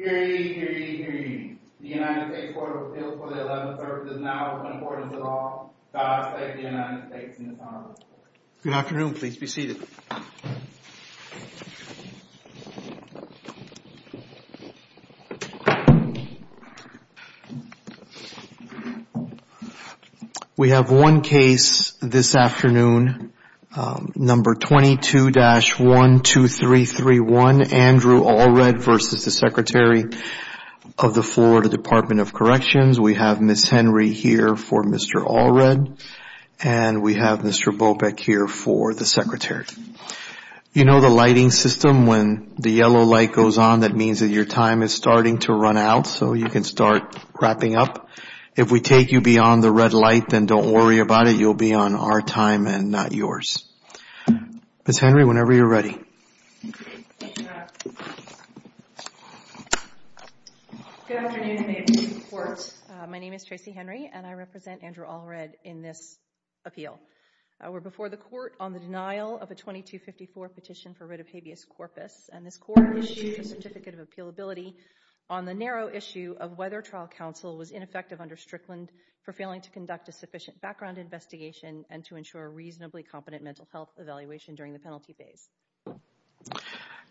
The United States Court of Appeals for the Eleventh-Third is now in accordance with law. God bless the United States and its Honorable Court. Good afternoon. Please be seated. We have one case this afternoon, number 22-12331, Andrew Allred v. Secretary of the Florida Department of Corrections. We have Ms. Henry here for Mr. Allred, and we have Mr. Bopec here for the Secretary. You know the lighting system, when the yellow light goes on, that means that your time is starting to run out, so you can start wrapping up. If we take you beyond the red light, then don't worry about it. You'll be on our time and not yours. Ms. Henry, whenever you're ready. Good afternoon, and may it please the Court. My name is Tracy Henry, and I represent Andrew Allred in this appeal. We're before the Court on the denial of a 2254 petition for writ of habeas corpus, and this Court issued a certificate of appealability on the narrow issue of whether trial counsel was ineffective under Strickland for failing to conduct a sufficient background investigation and to ensure a reasonably competent mental health evaluation during the penalty phase.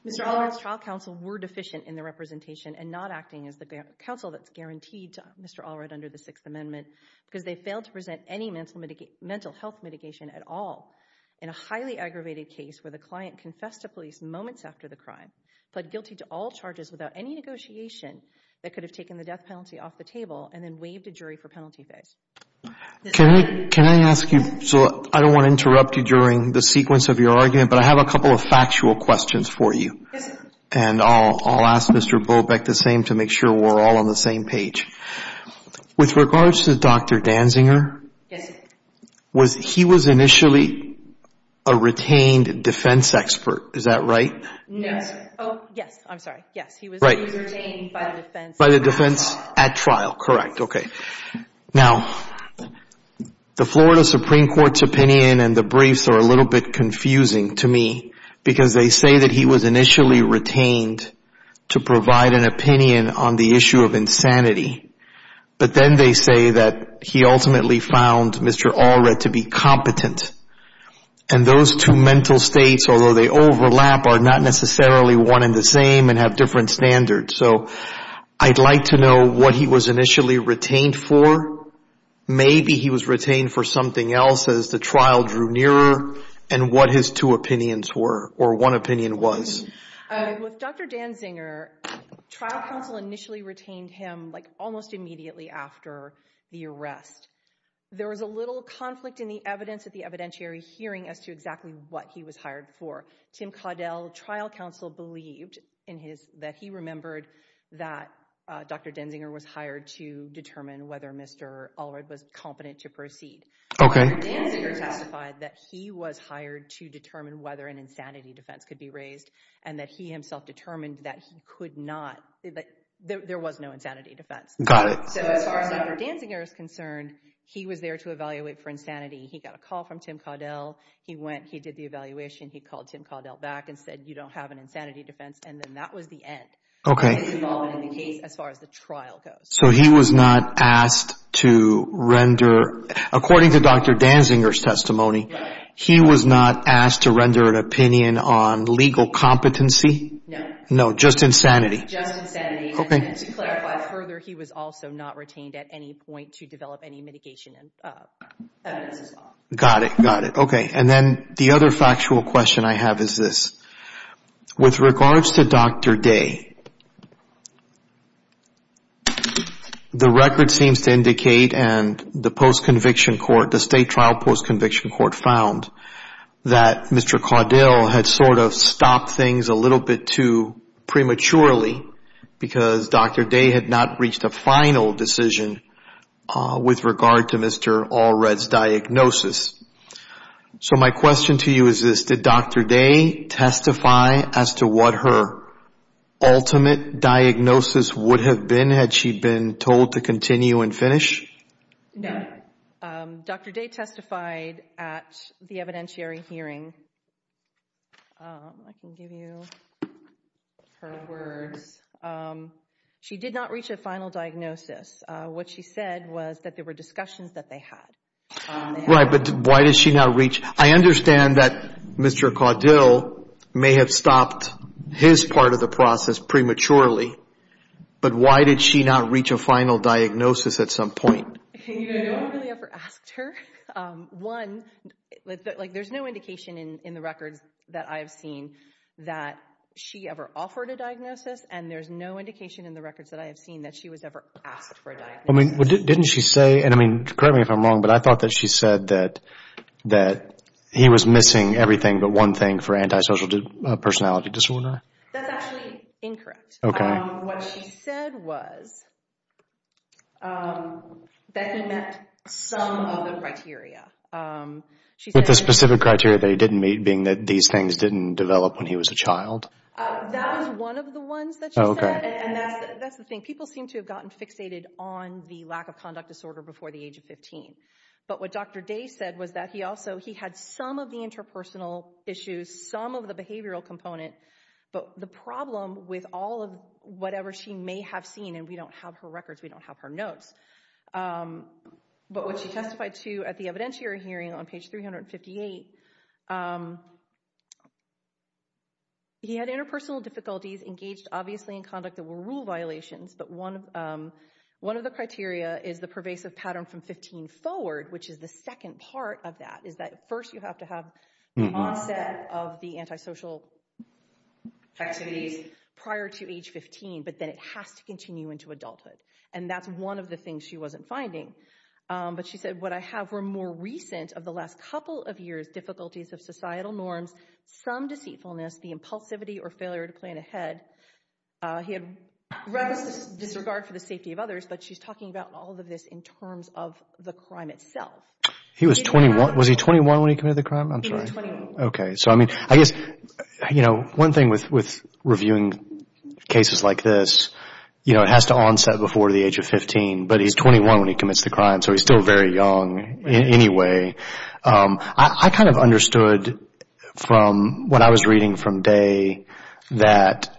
Mr. Allred's trial counsel were deficient in the representation and not acting as the counsel that's guaranteed to Mr. Allred under the Sixth Amendment because they failed to present any mental health mitigation at all. In a highly aggravated case where the client confessed to police moments after the crime, pled guilty to all charges without any negotiation that could have taken the death penalty off the table and then waived a jury for penalty phase. Can I ask you, so I don't want to interrupt you during the sequence of your argument, but I have a couple of factual questions for you. Yes, sir. And I'll ask Mr. Bobeck the same to make sure we're all on the same page. With regards to Dr. Danziger. Yes, sir. He was initially a retained defense expert, is that right? Yes. Oh, yes, I'm sorry. Yes, he was retained by the defense. By the defense at trial, correct. Okay. Now, the Florida Supreme Court's opinion and the briefs are a little bit confusing to me because they say that he was initially retained to provide an opinion on the issue of insanity. But then they say that he ultimately found Mr. Allred to be competent. And those two mental states, although they overlap, are not necessarily one and the same and have different standards. So I'd like to know what he was initially retained for. Maybe he was retained for something else as the trial drew nearer and what his two opinions were or one opinion was. With Dr. Danziger, trial counsel initially retained him almost immediately after the arrest. There was a little conflict in the evidence at the evidentiary hearing as to exactly what he was hired for. Tim Caudell, trial counsel, believed that he remembered that Dr. Danziger was hired to determine whether Mr. Allred was competent to proceed. Dr. Danziger testified that he was hired to determine whether an insanity defense could be raised and that he himself determined that there was no insanity defense. Got it. So as far as Dr. Danziger is concerned, he was there to evaluate for insanity. He got a call from Tim Caudell. He did the evaluation. He called Tim Caudell back and said, you don't have an insanity defense. And then that was the end of his involvement in the case as far as the trial goes. So he was not asked to render, according to Dr. Danziger's testimony, he was not asked to render an opinion on legal competency? No. No, just insanity. Just insanity. Okay. And to clarify further, he was also not retained at any point to develop any mitigation evidence as well. Got it. Got it. Okay. And then the other factual question I have is this. With regards to Dr. Day, the record seems to indicate and the post-conviction court, the state trial post-conviction court found that Mr. Caudell had sort of stopped things a little bit too prematurely because Dr. Day had not reached a final decision with regard to Mr. Allred's diagnosis. So my question to you is this. Did Dr. Day testify as to what her ultimate diagnosis would have been had she been told to continue and finish? No. Dr. Day testified at the evidentiary hearing. I can give you her words. She did not reach a final diagnosis. What she said was that there were discussions that they had. Right, but why did she not reach? I understand that Mr. Caudell may have stopped his part of the process prematurely, but why did she not reach a final diagnosis at some point? No one really ever asked her. There's no indication in the records that I have seen that she ever offered a diagnosis, and there's no indication in the records that I have seen that she was ever asked for a diagnosis. Didn't she say, and correct me if I'm wrong, but I thought that she said that he was missing everything but one thing for antisocial personality disorder. That's actually incorrect. Okay. What she said was that he met some of the criteria. With the specific criteria that he didn't meet being that these things didn't develop when he was a child? That was one of the ones that she said, and that's the thing. People seem to have gotten fixated on the lack of conduct disorder before the age of 15, but what Dr. Day said was that he also had some of the interpersonal issues, some of the behavioral component, but the problem with all of whatever she may have seen, and we don't have her records, we don't have her notes, but what she testified to at the evidentiary hearing on page 358, he had interpersonal difficulties engaged obviously in conduct that were rule violations, but one of the criteria is the pervasive pattern from 15 forward, which is the second part of that, is that first you have to have the onset of the antisocial activities prior to age 15, but then it has to continue into adulthood, and that's one of the things she wasn't finding. But she said, what I have were more recent of the last couple of years, difficulties of societal norms, some deceitfulness, the impulsivity or failure to plan ahead. He had reverence disregard for the safety of others, but she's talking about all of this in terms of the crime itself. He was 21. Was he 21 when he committed the crime? He was 21. Okay. So I mean, I guess, you know, one thing with reviewing cases like this, you know, it has to onset before the age of 15, but he's 21 when he commits the crime, so he's still very young in any way. I kind of understood from what I was reading from Day that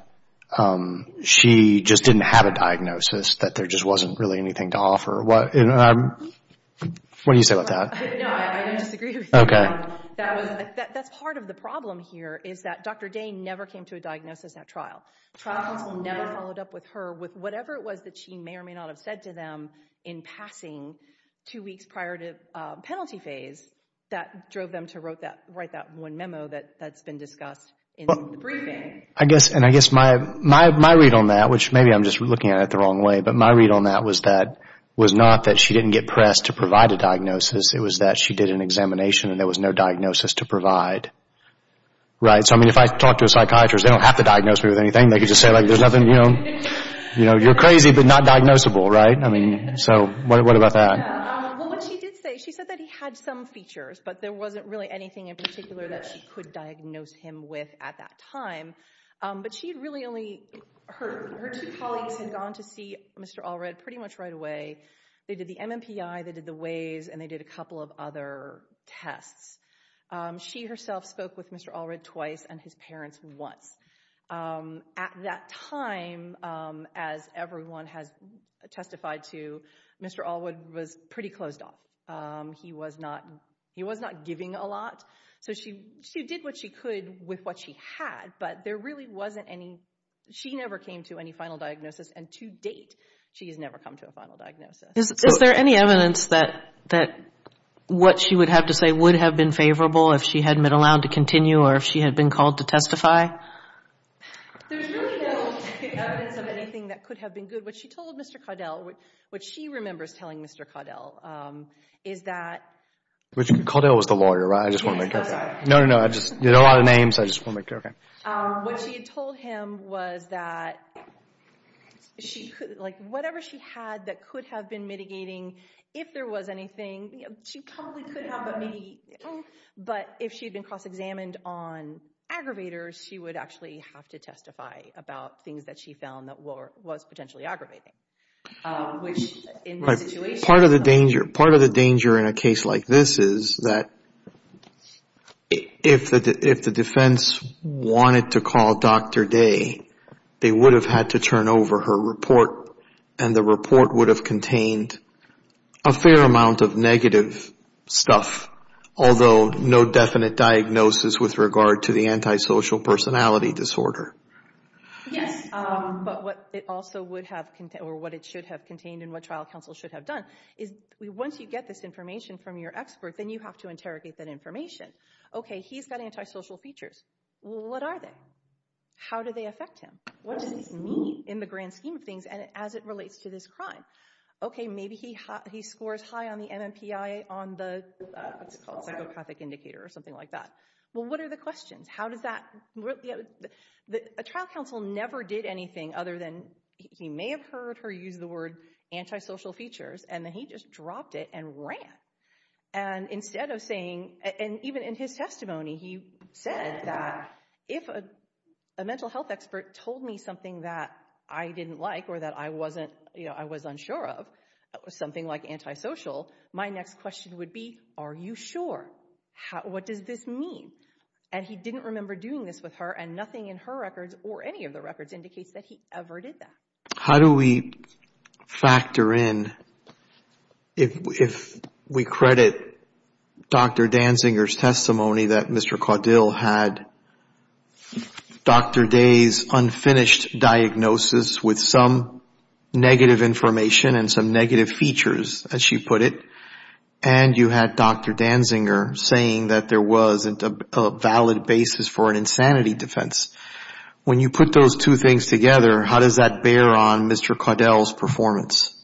she just didn't have a diagnosis, that there just wasn't really anything to offer. What do you say about that? No, I disagree with you. Okay. That's part of the problem here is that Dr. Day never came to a diagnosis at trial. Trial counsel never followed up with her with whatever it was that she may or may not have said to them in passing two weeks prior to penalty phase that drove them to write that one memo that's been discussed in the briefing. I guess my read on that, which maybe I'm just looking at it the wrong way, but my read on that was not that she didn't get pressed to provide a diagnosis. It was that she did an examination and there was no diagnosis to provide. Right? So, I mean, if I talk to a psychiatrist, they don't have to diagnose me with anything. They could just say, like, there's nothing, you know, you're crazy but not diagnosable, right? I mean, so what about that? Well, what she did say, she said that he had some features, but there wasn't really anything in particular that she could diagnose him with at that time. But she really only, her two colleagues had gone to see Mr. Allred pretty much right away. They did the MMPI, they did the Waze, and they did a couple of other tests. She herself spoke with Mr. Allred twice and his parents once. At that time, as everyone has testified to, Mr. Allred was pretty closed off. He was not giving a lot, so she did what she could with what she had, but there really wasn't any, she never came to any final diagnosis, and to date, she has never come to a final diagnosis. Is there any evidence that what she would have to say would have been favorable if she hadn't been allowed to continue or if she had been called to testify? There's really no evidence of anything that could have been good. What she told Mr. Caudill, what she remembers telling Mr. Caudill, is that... Caudill was the lawyer, right? No, no, no, I just did a lot of names, I just want to make sure, okay. What she had told him was that whatever she had that could have been mitigating, if there was anything, she probably could have, but maybe, but if she had been cross-examined on aggravators, she would actually have to testify about things that she found that was potentially aggravating. Part of the danger in a case like this is that if the defense wanted to call Dr. Day, they would have had to turn over her report, and the report would have contained a fair amount of negative stuff, although no definite diagnosis with regard to the antisocial personality disorder. Yes, but what it also would have contained, or what it should have contained, and what trial counsel should have done, is once you get this information from your expert, then you have to interrogate that information. Okay, he's got antisocial features. What are they? How do they affect him? What does this mean in the grand scheme of things as it relates to this crime? Okay, maybe he scores high on the MMPI on the, what's it called, psychopathic indicator or something like that. Well, what are the questions? A trial counsel never did anything other than he may have heard her use the word antisocial features, and then he just dropped it and ran. And instead of saying, and even in his testimony, he said that if a mental health expert told me something that I didn't like or that I was unsure of, something like antisocial, my next question would be, are you sure? What does this mean? And he didn't remember doing this with her, and nothing in her records or any of the records indicates that he ever did that. How do we factor in if we credit Dr. Danziger's testimony that Mr. Caudill had Dr. Day's unfinished diagnosis with some negative information and some negative features, as she put it, and you had Dr. Danziger saying that there wasn't a valid basis for an insanity defense? When you put those two things together, how does that bear on Mr. Caudill's performance?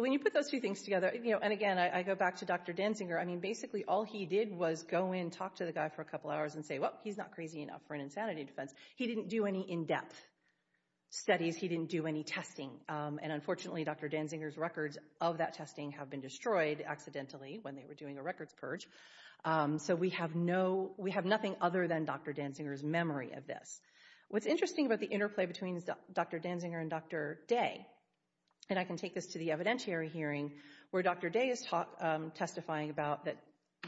When you put those two things together, and again, I go back to Dr. Danziger, I mean, basically all he did was go in and talk to the guy for a couple hours and say, well, he's not crazy enough for an insanity defense. He didn't do any in-depth studies. He didn't do any testing. And unfortunately, Dr. Danziger's records of that testing have been destroyed accidentally when they were doing a records purge. So we have nothing other than Dr. Danziger's memory of this. What's interesting about the interplay between Dr. Danziger and Dr. Day, and I can take this to the evidentiary hearing, where Dr. Day is testifying about that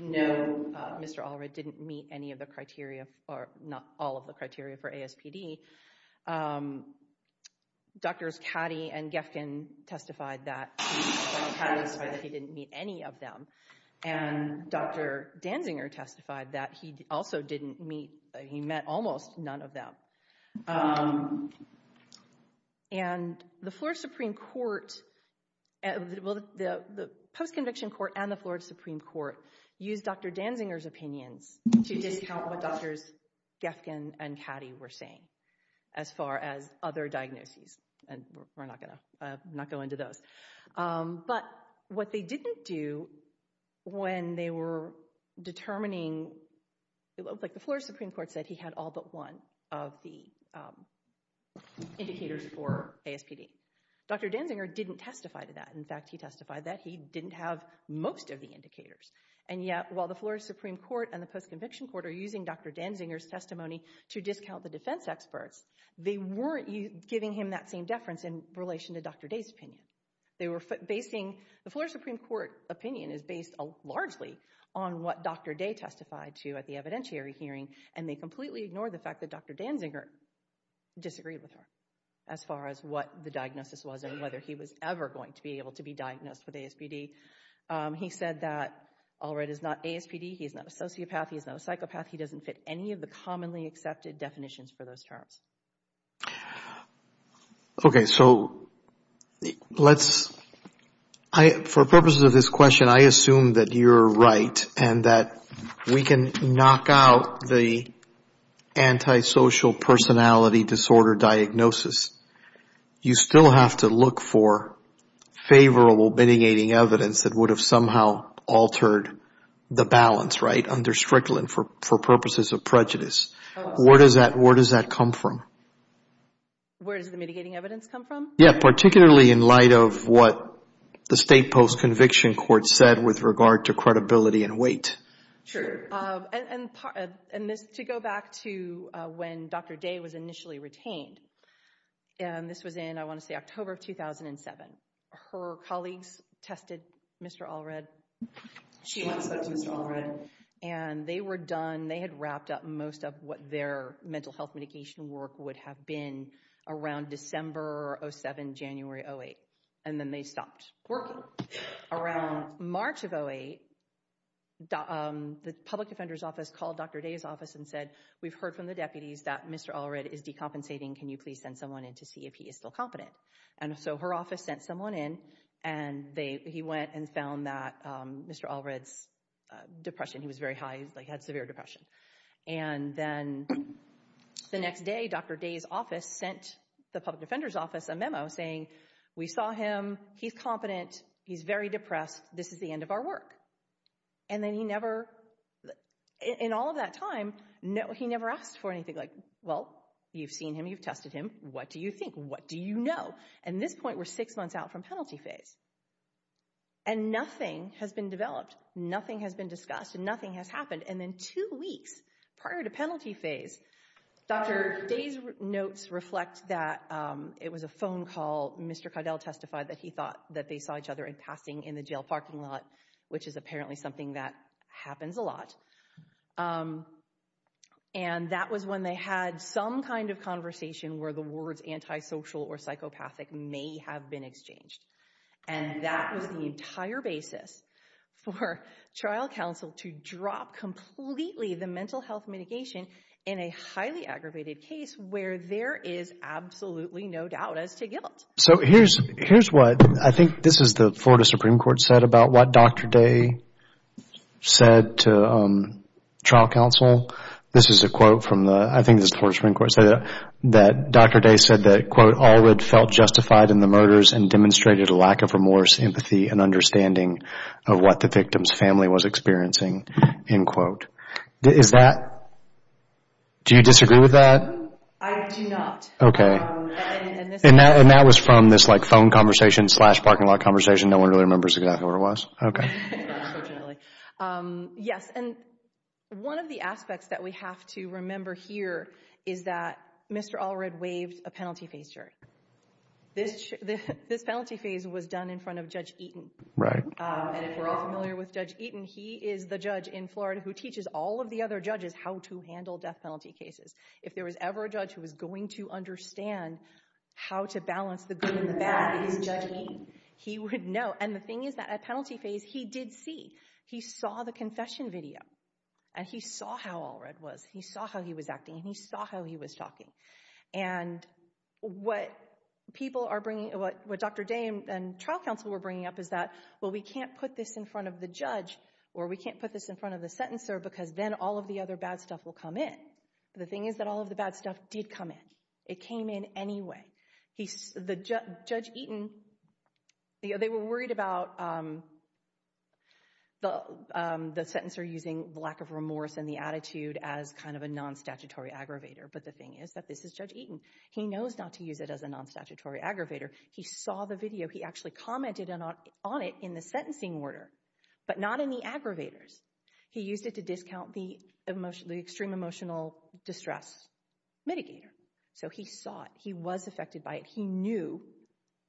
no, Mr. Allred didn't meet any of the criteria, or not all of the criteria for ASPD. Drs. Caddy and Gefkin testified that he didn't meet any of them. And Dr. Danziger testified that he also didn't meet, he met almost none of them. And the Florida Supreme Court, well, the post-conviction court and the Florida Supreme Court used Dr. Danziger's opinions to discount what Drs. Gefkin and Caddy were saying, as far as other diagnoses, and we're not going to go into those. But what they didn't do when they were determining, like the Florida Supreme Court said he had all but one of the indicators for ASPD. Dr. Danziger didn't testify to that. In fact, he testified that he didn't have most of the indicators. And yet, while the Florida Supreme Court and the post-conviction court are using Dr. Danziger's testimony to discount the defense experts, they weren't giving him that same deference in relation to Dr. Day's opinion. The Florida Supreme Court opinion is based largely on what Dr. Day testified to at the evidentiary hearing, and they completely ignored the fact that Dr. Danziger disagreed with her, as far as what the diagnosis was and whether he was ever going to be able to be diagnosed with ASPD. He said that Allred is not ASPD. He is not a sociopath. He is not a psychopath. He doesn't fit any of the commonly accepted definitions for those terms. Okay, so let's, for purposes of this question, I assume that you're right and that we can knock out the antisocial personality disorder diagnosis. You still have to look for favorable mitigating evidence that would have somehow altered the balance, right, under Strickland for purposes of prejudice. Where does that come from? Where does the mitigating evidence come from? Yeah, particularly in light of what the state post-conviction court said with regard to credibility and weight. True. And to go back to when Dr. Day was initially retained, and this was in, I want to say, October of 2007. Her colleagues tested Mr. Allred. She once tested Mr. Allred. And they were done. They had wrapped up most of what their mental health mitigation work would have been around December 07, January 08, and then they stopped working. Around March of 08, the public defender's office called Dr. Day's office and said, we've heard from the deputies that Mr. Allred is decompensating. Can you please send someone in to see if he is still competent? And so her office sent someone in, and he went and found that Mr. Allred's depression, he was very high, he had severe depression. And then the next day, Dr. Day's office sent the public defender's office a memo saying, we saw him, he's competent, he's very depressed, this is the end of our work. And then he never, in all of that time, he never asked for anything like, well, you've seen him, you've tested him, what do you think? What do you know? And at this point, we're six months out from penalty phase. And nothing has been developed. Nothing has been discussed, and nothing has happened. And then two weeks prior to penalty phase, Dr. Day's notes reflect that it was a phone call, Mr. Caudill testified that he thought that they saw each other in passing in the jail parking lot, which is apparently something that happens a lot. And that was when they had some kind of conversation where the words antisocial or psychopathic may have been exchanged. And that was the entire basis for trial counsel to drop completely the mental health mitigation in a highly aggravated case where there is absolutely no doubt as to guilt. So here's what I think this is the Florida Supreme Court said about what Dr. Day said to trial counsel. This is a quote from the, I think this is the Florida Supreme Court, that Dr. Day said that, quote, of what the victim's family was experiencing, end quote. Is that, do you disagree with that? I do not. Okay. And that was from this, like, phone conversation slash parking lot conversation. No one really remembers exactly what it was. Okay. Yes, and one of the aspects that we have to remember here is that Mr. Allred waived a penalty phase charge. This penalty phase was done in front of Judge Eaton. Right. And if we're all familiar with Judge Eaton, he is the judge in Florida who teaches all of the other judges how to handle death penalty cases. If there was ever a judge who was going to understand how to balance the good and the bad, it was Judge Eaton. He would know. And the thing is that at penalty phase, he did see. He saw the confession video, and he saw how Allred was. He saw how he was acting, and he saw how he was talking. And what people are bringing, what Dr. Day and trial counsel were bringing up is that, well, we can't put this in front of the judge or we can't put this in front of the sentencer because then all of the other bad stuff will come in. The thing is that all of the bad stuff did come in. It came in anyway. Judge Eaton, they were worried about the sentencer using lack of remorse and the attitude as kind of a non-statutory aggravator, but the thing is that this is Judge Eaton. He knows not to use it as a non-statutory aggravator. He saw the video. He actually commented on it in the sentencing order, but not in the aggravators. He used it to discount the extreme emotional distress mitigator. So he saw it. He was affected by it. He knew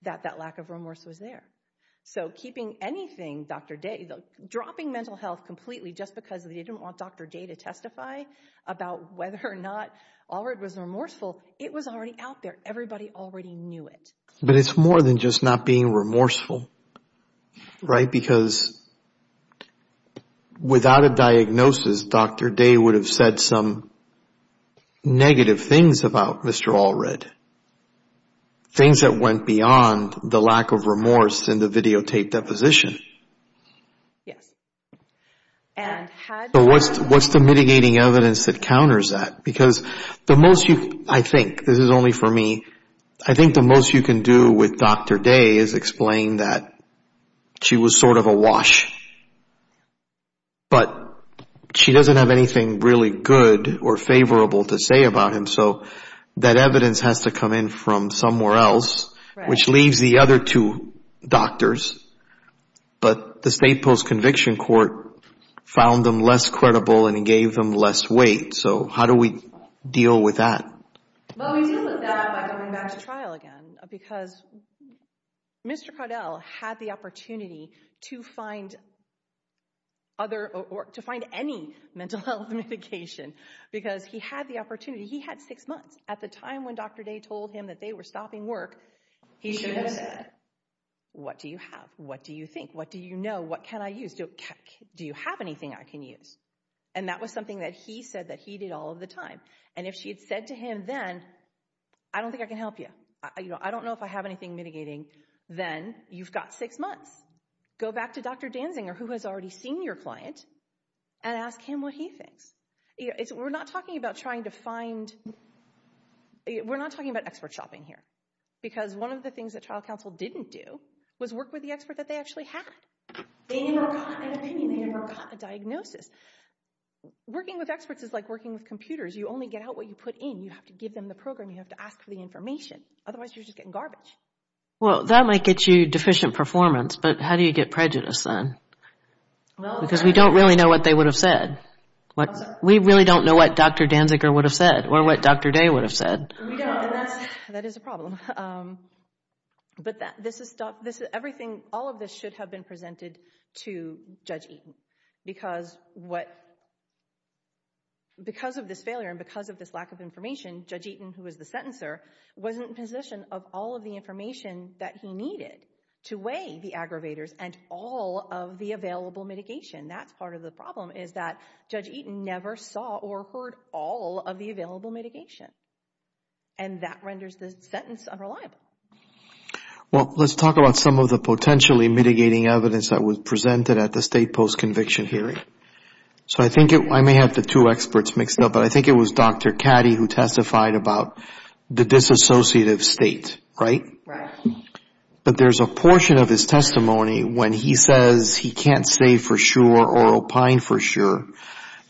that that lack of remorse was there. So keeping anything Dr. Day, dropping mental health completely just because they didn't want Dr. Day to testify about whether or not Allred was remorseful, it was already out there. Everybody already knew it. But it's more than just not being remorseful, right? Because without a diagnosis, Dr. Day would have said some negative things about Mr. Allred, things that went beyond the lack of remorse and the videotaped deposition. Yes. So what's the mitigating evidence that counters that? Because the most you can do, I think, this is only for me, I think the most you can do with Dr. Day is explain that she was sort of a wash. But she doesn't have anything really good or favorable to say about him, so that evidence has to come in from somewhere else, which leaves the other two doctors. But the state post-conviction court found them less credible and it gave them less weight. So how do we deal with that? Well, we deal with that by going back to trial again because Mr. Cardell had the opportunity to find any mental health mitigation because he had the opportunity. He had six months. At the time when Dr. Day told him that they were stopping work, he should have said, what do you have? What do you think? What do you know? What can I use? Do you have anything I can use? And that was something that he said that he did all of the time. And if she had said to him then, I don't think I can help you. I don't know if I have anything mitigating. Then you've got six months. Go back to Dr. Danzinger, who has already seen your client, and ask him what he thinks. We're not talking about trying to find – we're not talking about expert shopping here because one of the things that trial counsel didn't do was work with the expert that they actually had. They never got an opinion. They never got a diagnosis. Working with experts is like working with computers. You only get out what you put in. You have to give them the program. You have to ask for the information. Otherwise, you're just getting garbage. Well, that might get you deficient performance, but how do you get prejudice then? Because we don't really know what they would have said. We really don't know what Dr. Danzinger would have said or what Dr. Day would have said. We don't, and that is a problem. But all of this should have been presented to Judge Eaton because of this failure and because of this lack of information, Judge Eaton, who was the sentencer, wasn't in position of all of the information that he needed to weigh the aggravators and all of the available mitigation. That's part of the problem is that Judge Eaton never saw or heard all of the available mitigation, and that renders the sentence unreliable. Well, let's talk about some of the potentially mitigating evidence that was presented at the state post-conviction hearing. I may have the two experts mixed up, but I think it was Dr. Caddy who testified about the disassociative state, right? Right. But there's a portion of his testimony when he says he can't say for sure or opine for sure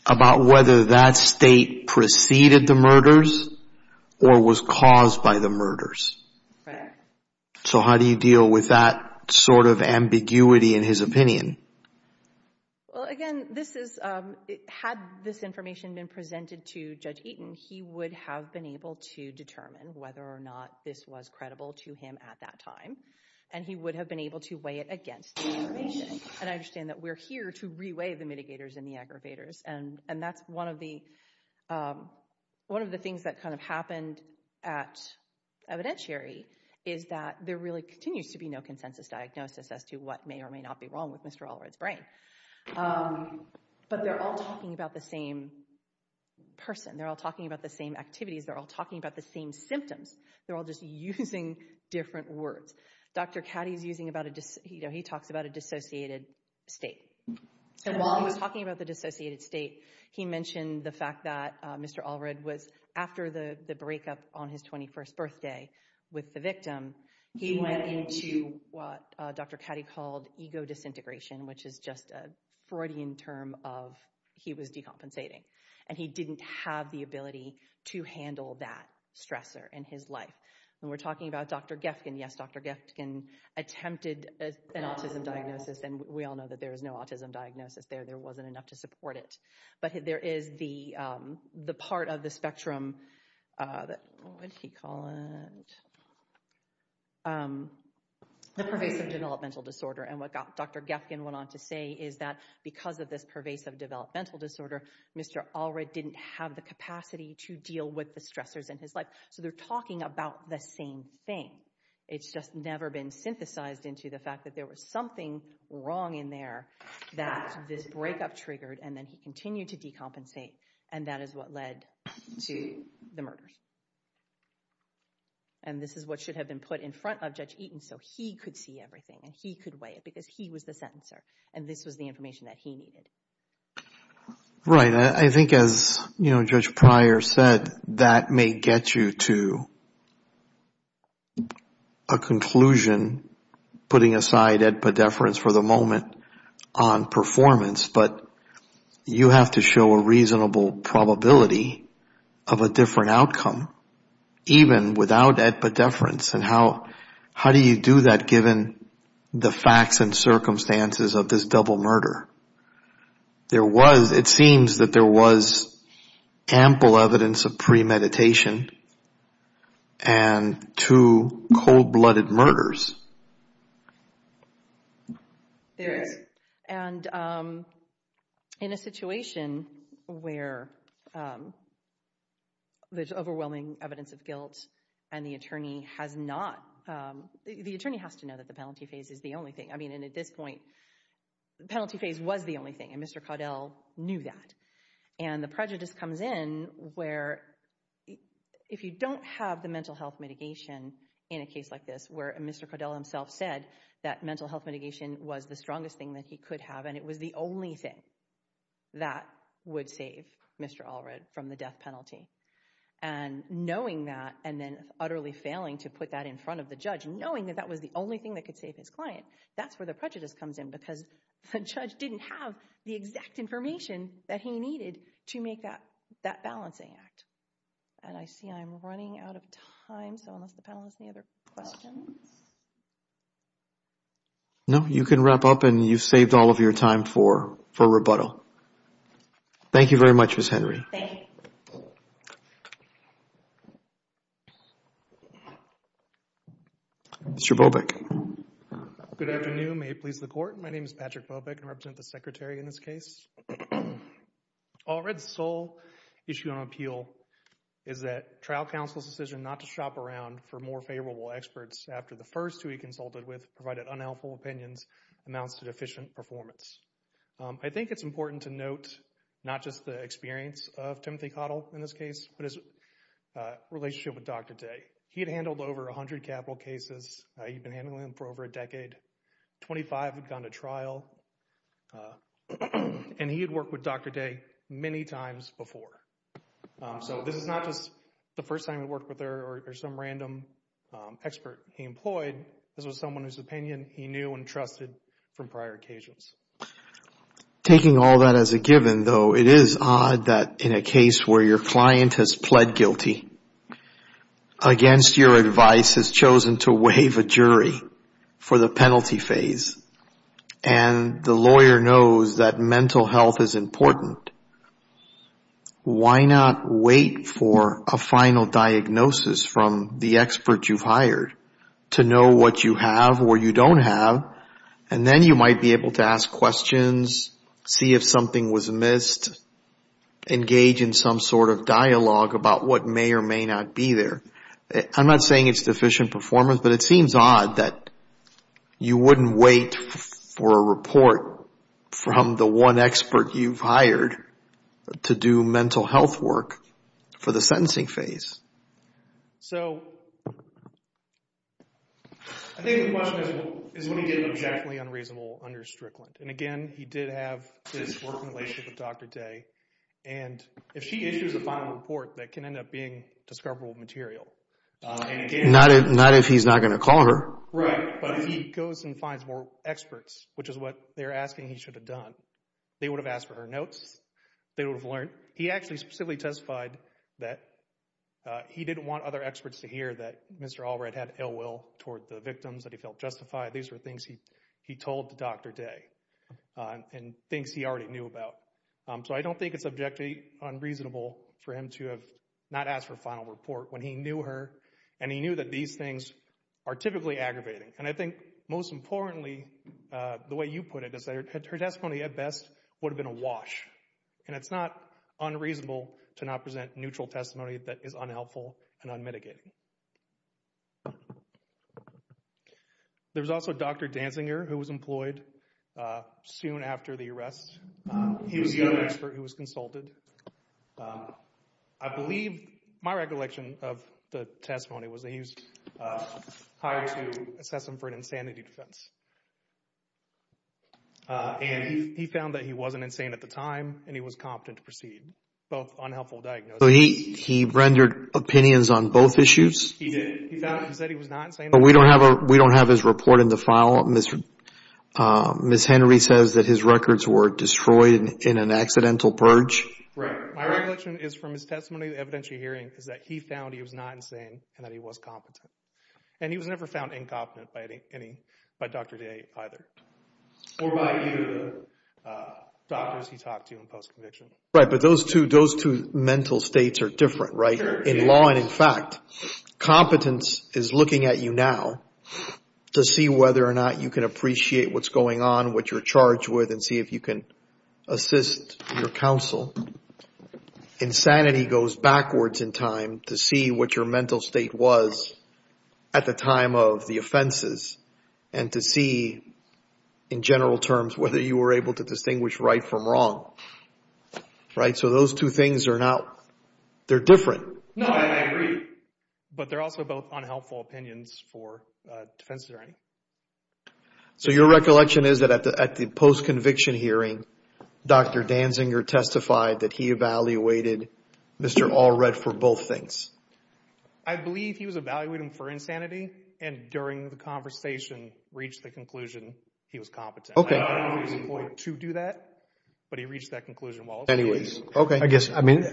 about whether that state preceded the murders or was caused by the murders. Right. So how do you deal with that sort of ambiguity in his opinion? Well, again, had this information been presented to Judge Eaton, he would have been able to determine whether or not this was credible to him at that time, and he would have been able to weigh it against the information. And I understand that we're here to re-weigh the mitigators and the aggravators. And that's one of the things that kind of happened at evidentiary is that there really continues to be no consensus diagnosis as to what may or may not be wrong with Mr. Allred's brain. But they're all talking about the same person. They're all talking about the same activities. They're all talking about the same symptoms. They're all just using different words. Dr. Caddy talks about a dissociated state. And while he was talking about the dissociated state, he mentioned the fact that Mr. Allred was, after the breakup on his 21st birthday with the victim, he went into what Dr. Caddy called ego disintegration, which is just a Freudian term of he was decompensating. And he didn't have the ability to handle that stressor in his life. And we're talking about Dr. Geffken. Yes, Dr. Geffken attempted an autism diagnosis, and we all know that there is no autism diagnosis there. There wasn't enough to support it. But there is the part of the spectrum, what did he call it, the pervasive developmental disorder. And what Dr. Geffken went on to say is that because of this pervasive developmental disorder, Mr. Allred didn't have the capacity to deal with the stressors in his life. So they're talking about the same thing. It's just never been synthesized into the fact that there was something wrong in there that this breakup triggered, and then he continued to decompensate, and that is what led to the murders. And this is what should have been put in front of Judge Eaton so he could see everything and he could weigh it because he was the sentencer, and this was the information that he needed. Right. I think as Judge Pryor said, that may get you to a conclusion, putting aside ed pediferance for the moment on performance, but you have to show a reasonable probability of a different outcome, even without ed pediferance. And how do you do that given the facts and circumstances of this double murder? It seems that there was ample evidence of premeditation and two cold-blooded murders. There is. And in a situation where there's overwhelming evidence of guilt and the attorney has to know that the penalty phase is the only thing. I mean, at this point, the penalty phase was the only thing, and Mr. Caudill knew that. And the prejudice comes in where if you don't have the mental health mitigation in a case like this where Mr. Caudill himself said that mental health mitigation was the strongest thing that he could have and it was the only thing that would save Mr. Allred from the death penalty, and knowing that and then utterly failing to put that in front of the judge, knowing that that was the only thing that could save his client, that's where the prejudice comes in because the judge didn't have the exact information that he needed to make that balancing act. And I see I'm running out of time, so unless the panel has any other questions. No, you can wrap up and you've saved all of your time for rebuttal. Thank you very much, Ms. Henry. Thank you. Mr. Bobeck. Good afternoon. May it please the Court. My name is Patrick Bobeck and I represent the Secretary in this case. Allred's sole issue on appeal is that trial counsel's decision not to shop around for more favorable experts after the first who he consulted with provided unhelpful opinions amounts to deficient performance. I think it's important to note not just the experience of Timothy Cottle in this case, but his relationship with Dr. Day. He had handled over 100 capital cases. He'd been handling them for over a decade. Twenty-five had gone to trial, and he had worked with Dr. Day many times before. So this is not just the first time he worked with her or some random expert he employed. This was someone whose opinion he knew and trusted from prior occasions. Taking all that as a given, though, it is odd that in a case where your client has pled guilty against your advice, has chosen to waive a jury for the penalty phase, and the lawyer knows that mental health is important, why not wait for a final diagnosis from the expert you've hired to know what you have or you don't have, and then you might be able to ask questions, see if something was missed, engage in some sort of dialogue about what may or may not be there. I'm not saying it's deficient performance, but it seems odd that you wouldn't wait for a report from the one expert you've hired to do mental health work for the sentencing phase. So I think the question is what he did that was actually unreasonable under Strickland. And again, he did have his work relationship with Dr. Day, and if she issues a final report, that can end up being discoverable material. Not if he's not going to call her. Right, but if he goes and finds more experts, which is what they're asking he should have done, they would have asked for her notes, they would have learned. He actually specifically testified that he didn't want other experts to hear that Mr. Allred had ill will toward the victims, that he felt justified. These were things he told Dr. Day and things he already knew about. So I don't think it's objectively unreasonable for him to have not asked for a final report when he knew her and he knew that these things are typically aggravating. And I think most importantly, the way you put it, is that her testimony at best would have been a wash. And it's not unreasonable to not present neutral testimony that is unhelpful and unmitigating. There was also Dr. Danzinger who was employed soon after the arrest. He was the other expert who was consulted. I believe my recollection of the testimony was that he was hired to assess him for an insanity defense. And he found that he wasn't insane at the time and he was competent to proceed. Both unhelpful diagnoses. So he rendered opinions on both issues? He did. He said he was not insane. But we don't have his report in the file. Ms. Henry says that his records were destroyed in an accidental purge. Right. My recollection is from his testimony, the evidentiary hearing, is that he found he was not insane and that he was competent. And he was never found incompetent by Dr. Day either. Or by either of the doctors he talked to in post-conviction. Right, but those two mental states are different, right? In law and in fact. Competence is looking at you now to see whether or not you can appreciate what's going on, what you're charged with, and see if you can assist your counsel. Insanity goes backwards in time to see what your mental state was at the time of the offenses and to see, in general terms, whether you were able to distinguish right from wrong. Right, so those two things are not, they're different. No, I agree. But they're also both unhelpful opinions for defenses or anything. So your recollection is that at the post-conviction hearing, Dr. Danziger testified that he evaluated Mr. Allred for both things? I believe he was evaluating him for insanity, and during the conversation reached the conclusion he was competent. Okay. I don't know if he was employed to do that, but he reached that conclusion. Anyways, I guess, I mean,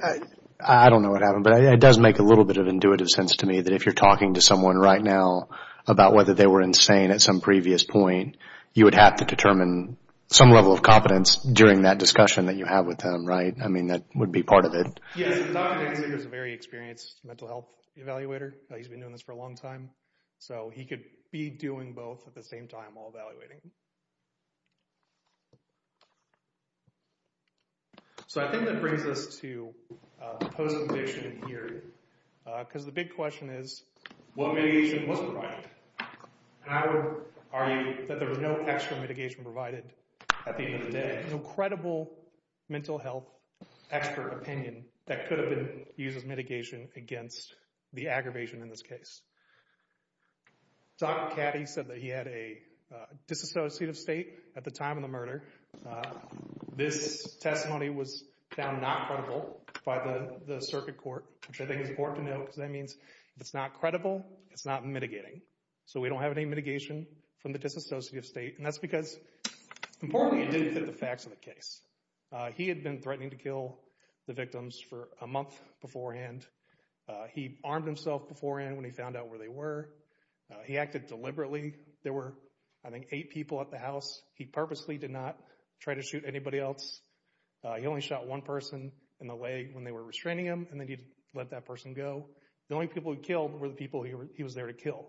I don't know what happened, but it does make a little bit of intuitive sense to me that if you're talking to someone right now about whether they were insane at some previous point, you would have to determine some level of competence during that discussion that you have with them, right? I mean, that would be part of it. Yes, Dr. Danziger is a very experienced mental health evaluator. He's been doing this for a long time. So he could be doing both at the same time while evaluating. So I think that brings us to the post-conviction hearing because the big question is what mitigation was provided? And I would argue that there was no extra mitigation provided at the end of the day, no credible mental health expert opinion that could have been used as mitigation against the aggravation in this case. Dr. Caddy said that he had a disassociative state at the time of the murder. This testimony was found not credible by the circuit court, which I think is important to note because that means if it's not credible, it's not mitigating. So we don't have any mitigation from the disassociative state. And that's because, importantly, it didn't fit the facts of the case. He had been threatening to kill the victims for a month beforehand. He armed himself beforehand when he found out where they were. He acted deliberately. There were, I think, eight people at the house. He purposely did not try to shoot anybody else. He only shot one person in the leg when they were restraining him, and then he let that person go. The only people he killed were the people he was there to kill.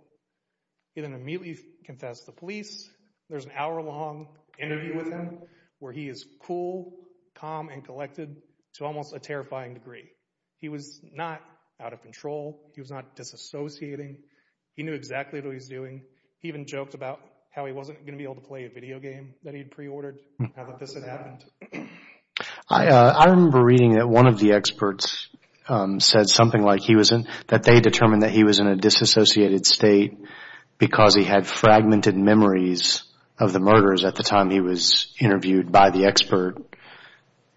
He then immediately confessed to the police. There's an hour-long interview with him where he is cool, calm, and collected to almost a terrifying degree. He was not out of control. He was not disassociating. He knew exactly what he was doing. He even joked about how he wasn't going to be able to play a video game that he had preordered, how that this had happened. I remember reading that one of the experts said something like that they determined that he was in a disassociated state because he had fragmented memories of the murders at the time he was interviewed by the expert.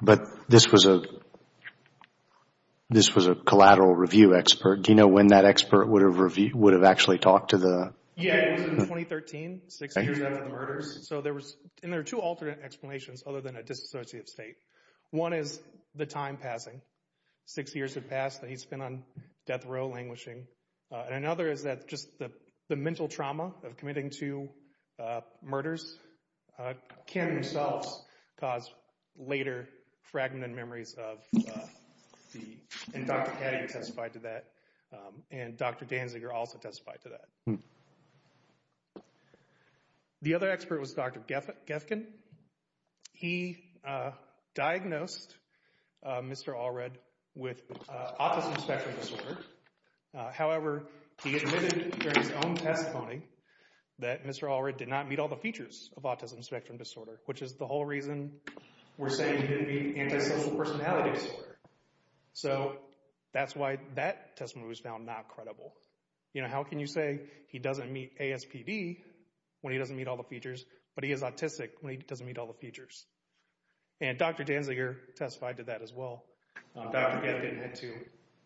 But this was a collateral review expert. Do you know when that expert would have actually talked to the— Yeah, it was in 2013, six years after the murders. And there are two alternate explanations other than a disassociated state. One is the time passing. Six years had passed, and he's been on death row languishing. And another is that just the mental trauma of committing two murders can themselves cause later fragmented memories of the—and Dr. Caddy testified to that, and Dr. Danziger also testified to that. The other expert was Dr. Gefkin. He diagnosed Mr. Allred with autism spectrum disorder. However, he admitted during his own testimony that Mr. Allred did not meet all the features of autism spectrum disorder, which is the whole reason we're saying he didn't meet antisocial personality disorder. So that's why that testimony was found not credible. You know, how can you say he doesn't meet ASPD when he doesn't meet all the features, but he is autistic when he doesn't meet all the features? And Dr. Danziger testified to that as well. Dr. Gefkin had to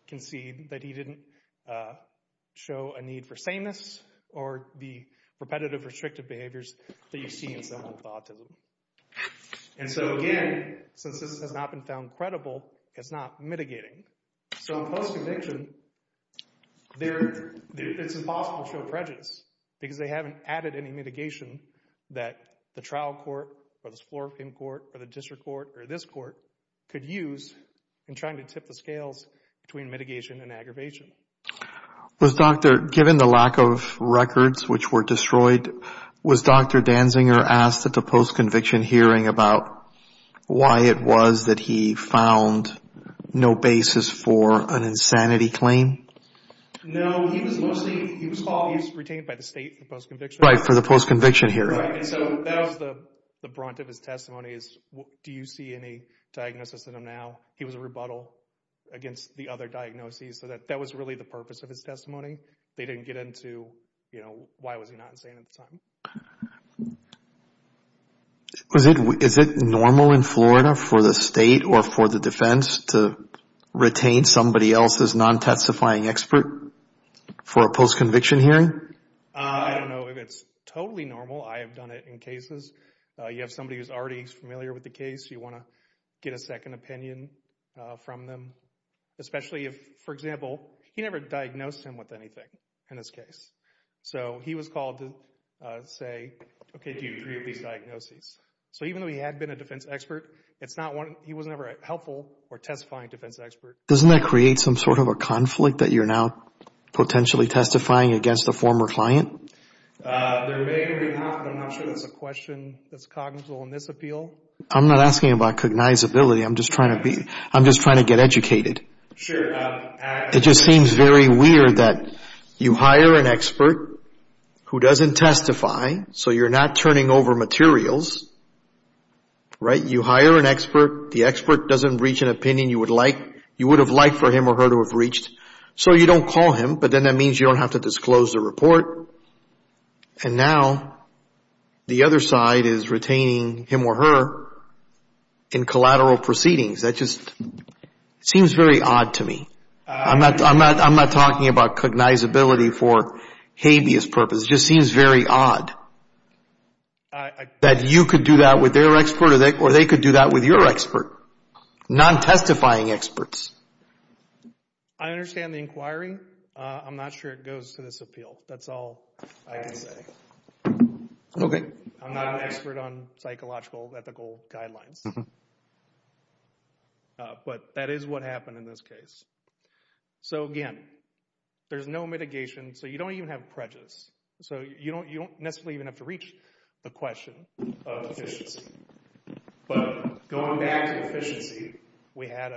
concede that he didn't show a need for sameness or the repetitive restrictive behaviors that you see in someone with autism. And so again, since this has not been found credible, it's not mitigating. So in post-conviction, it's impossible to show prejudice because they haven't added any mitigation that the trial court or the floor-of-court or the district court or this court could use in trying to tip the scales between mitigation and aggravation. Given the lack of records which were destroyed, was Dr. Danziger asked at the post-conviction hearing about why it was that he found no basis for an insanity claim? No, he was retained by the state for the post-conviction. Right, and so that was the brunt of his testimony is, do you see any diagnosis in him now? He was a rebuttal against the other diagnoses. So that was really the purpose of his testimony. They didn't get into, you know, why was he not insane at the time. Is it normal in Florida for the state or for the defense to retain somebody else's non-testifying expert for a post-conviction hearing? I don't know if it's totally normal. I have done it in cases. You have somebody who's already familiar with the case. You want to get a second opinion from them, especially if, for example, he never diagnosed him with anything in this case. So he was called to say, okay, do you agree with these diagnoses? So even though he had been a defense expert, he was never a helpful or testifying defense expert. Doesn't that create some sort of a conflict that you're now potentially testifying against a former client? There may or may not, but I'm not sure that's a question that's cognizant in this appeal. I'm not asking about cognizability. I'm just trying to get educated. Sure. It just seems very weird that you hire an expert who doesn't testify, so you're not turning over materials, right? You hire an expert. The expert doesn't reach an opinion you would have liked for him or her to have reached. So you don't call him, but then that means you don't have to disclose the report. And now the other side is retaining him or her in collateral proceedings. That just seems very odd to me. I'm not talking about cognizability for habeas purpose. It just seems very odd that you could do that with their expert or they could do that with your expert, non-testifying experts. I understand the inquiry. I'm not sure it goes to this appeal. That's all I can say. Okay. I'm not an expert on psychological ethical guidelines. But that is what happened in this case. So, again, there's no mitigation, so you don't even have prejudice. So you don't necessarily even have to reach the question of efficiency. But going back to efficiency, we had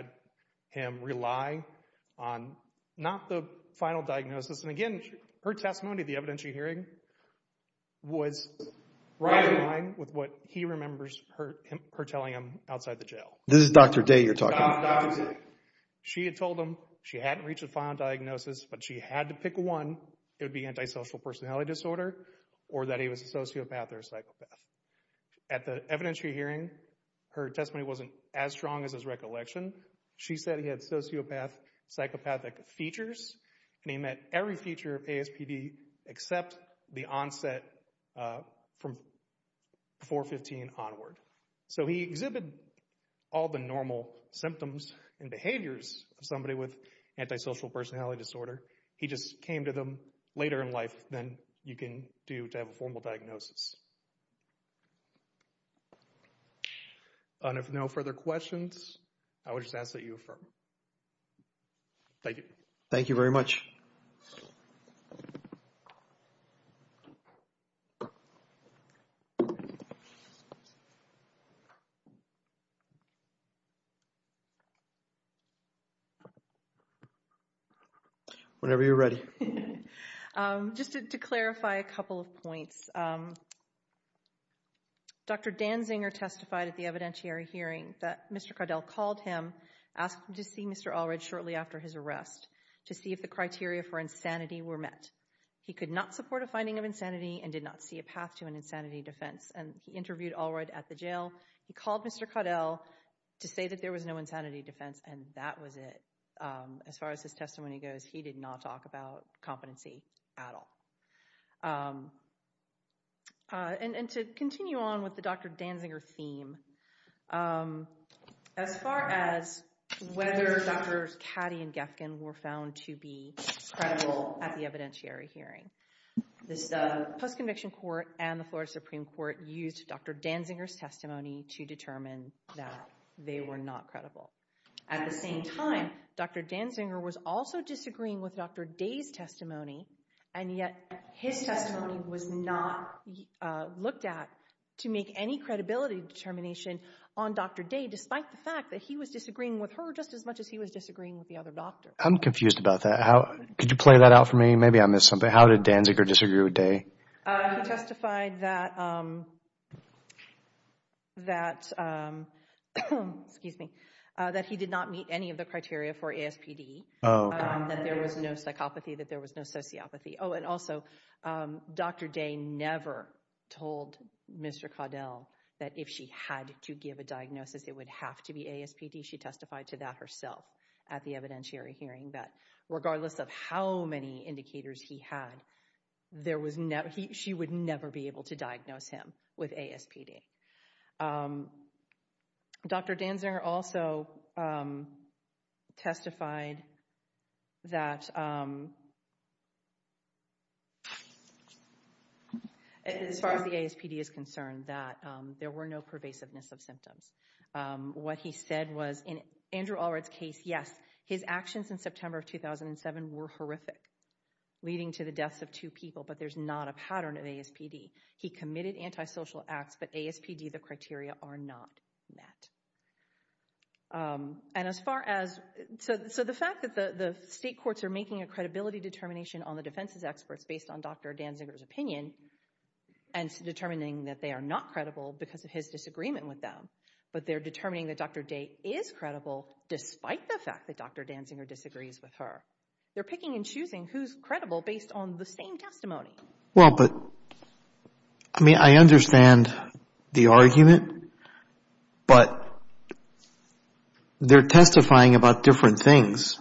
him rely on not the final diagnosis. And, again, her testimony at the evidentiary hearing was right in line with what he remembers her telling him outside the jail. This is Dr. Day you're talking about? Dr. Day. She had told him she hadn't reached the final diagnosis, but she had to pick one. It would be antisocial personality disorder or that he was a sociopath or a psychopath. At the evidentiary hearing, her testimony wasn't as strong as his recollection. She said he had sociopath, psychopathic features, and he met every feature of ASPD except the onset from 4-15 onward. So he exhibited all the normal symptoms and behaviors of somebody with antisocial personality disorder. He just came to them later in life than you can do to have a formal diagnosis. And if no further questions, I would just ask that you affirm. Thank you. Thank you very much. Whenever you're ready. Just to clarify a couple of points, Dr. Danziger testified at the evidentiary hearing that Mr. Caudill called him, asked to see Mr. Allred shortly after his arrest to see if the criteria for insanity were met. He could not support a finding of insanity and did not see a path to an insanity defense, and he interviewed Allred at the jail. He called Mr. Caudill to say that there was no insanity defense, and that was it. As far as his testimony goes, he did not talk about competency at all. And to continue on with the Dr. Danziger theme, as far as whether Drs. Caddy and Gefkin were found to be credible at the evidentiary hearing, this post-conviction court and the Florida Supreme Court used Dr. Danziger's testimony to determine that they were not credible. At the same time, Dr. Danziger was also disagreeing with Dr. Day's testimony, and yet his testimony was not looked at to make any credibility determination on Dr. Day, despite the fact that he was disagreeing with her just as much as he was disagreeing with the other doctors. I'm confused about that. Could you play that out for me? Maybe I missed something. How did Danziger disagree with Day? He testified that he did not meet any of the criteria for ASPD, that there was no psychopathy, that there was no sociopathy. Oh, and also, Dr. Day never told Mr. Caudill that if she had to give a diagnosis, it would have to be ASPD. She testified to that herself at the evidentiary hearing, that regardless of how many indicators he had, she would never be able to diagnose him with ASPD. Dr. Danziger also testified that, as far as the ASPD is concerned, that there were no pervasiveness of symptoms. What he said was, in Andrew Allred's case, yes, his actions in September of 2007 were horrific, leading to the deaths of two people, but there's not a pattern of ASPD. He committed antisocial acts, but ASPD, the criteria, are not met. So the fact that the state courts are making a credibility determination on the defense's experts based on Dr. Danziger's opinion and determining that they are not credible because of his disagreement with them, but they're determining that Dr. Day is credible despite the fact that Dr. Danziger disagrees with her. They're picking and choosing who's credible based on the same testimony. Well, but, I mean, I understand the argument, but they're testifying about different things.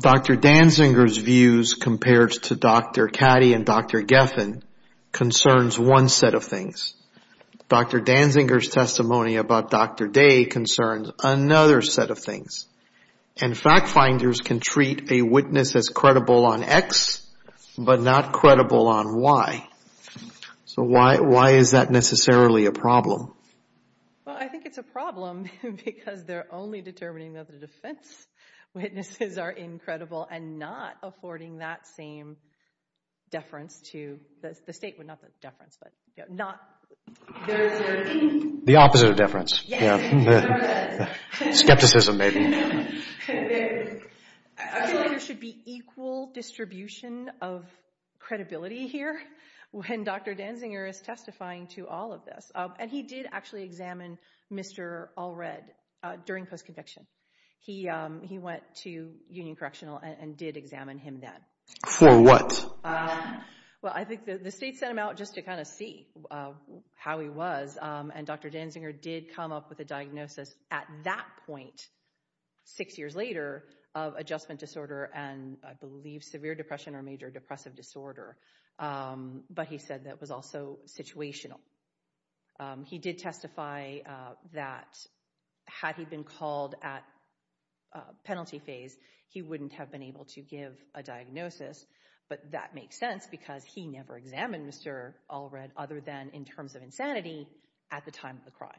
Dr. Danziger's views compared to Dr. Caddy and Dr. Geffen concerns one set of things. Dr. Danziger's testimony about Dr. Day concerns another set of things. And fact finders can treat a witness as credible on X, but not credible on Y. So why is that necessarily a problem? Well, I think it's a problem because they're only determining that the defense witnesses are incredible and not affording that same deference to the state. Well, not the deference, but not... The opposite of deference. Yes. Skepticism, maybe. I feel like there should be equal distribution of credibility here when Dr. Danziger is testifying to all of this. And he did actually examine Mr. Allred during post-conviction. He went to Union Correctional and did examine him then. For what? Well, I think the state sent him out just to kind of see how he was, and Dr. Danziger did come up with a diagnosis at that point, six years later, of adjustment disorder and I believe severe depression or major depressive disorder. But he said that was also situational. He did testify that had he been called at penalty phase, he wouldn't have been able to give a diagnosis. But that makes sense because he never examined Mr. Allred other than in terms of insanity at the time of the crime.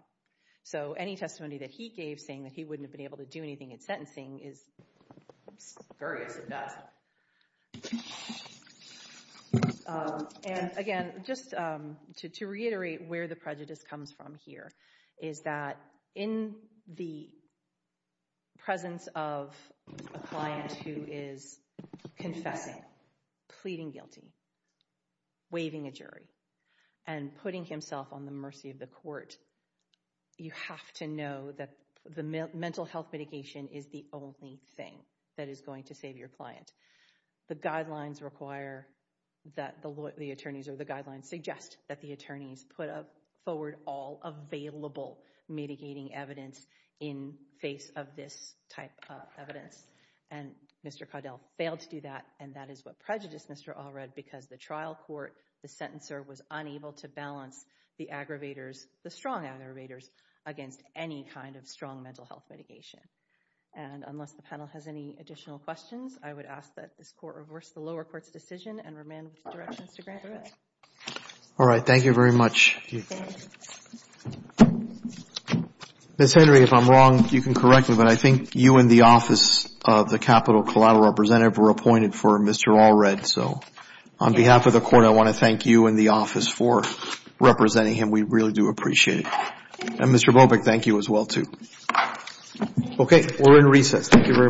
So any testimony that he gave saying that he wouldn't have been able to do anything in sentencing is scurrious at best. And again, just to reiterate where the prejudice comes from here is that in the presence of a client who is confessing, pleading guilty, waiving a jury, and putting himself on the mercy of the court, you have to know that the mental health mitigation is the only thing that is going to save your client. The guidelines require that the attorneys or the guidelines suggest that the attorneys put forward all available mitigating evidence in face of this type of evidence. And Mr. Caudill failed to do that, and that is what prejudiced Mr. Allred because the trial court, the sentencer, was unable to balance the aggravators, the strong aggravators, against any kind of strong mental health mitigation. And unless the panel has any additional questions, I would ask that this Court reverse the lower court's decision and remand the directions to Grant. All right, thank you very much. Ms. Henry, if I'm wrong, you can correct me, but I think you and the Office of the Capital Collateral Representative were appointed for Mr. Allred. So on behalf of the Court, I want to thank you and the Office for representing him. We really do appreciate it. And Mr. Bobik, thank you as well too. Okay, we're in recess. Thank you very much. All rise.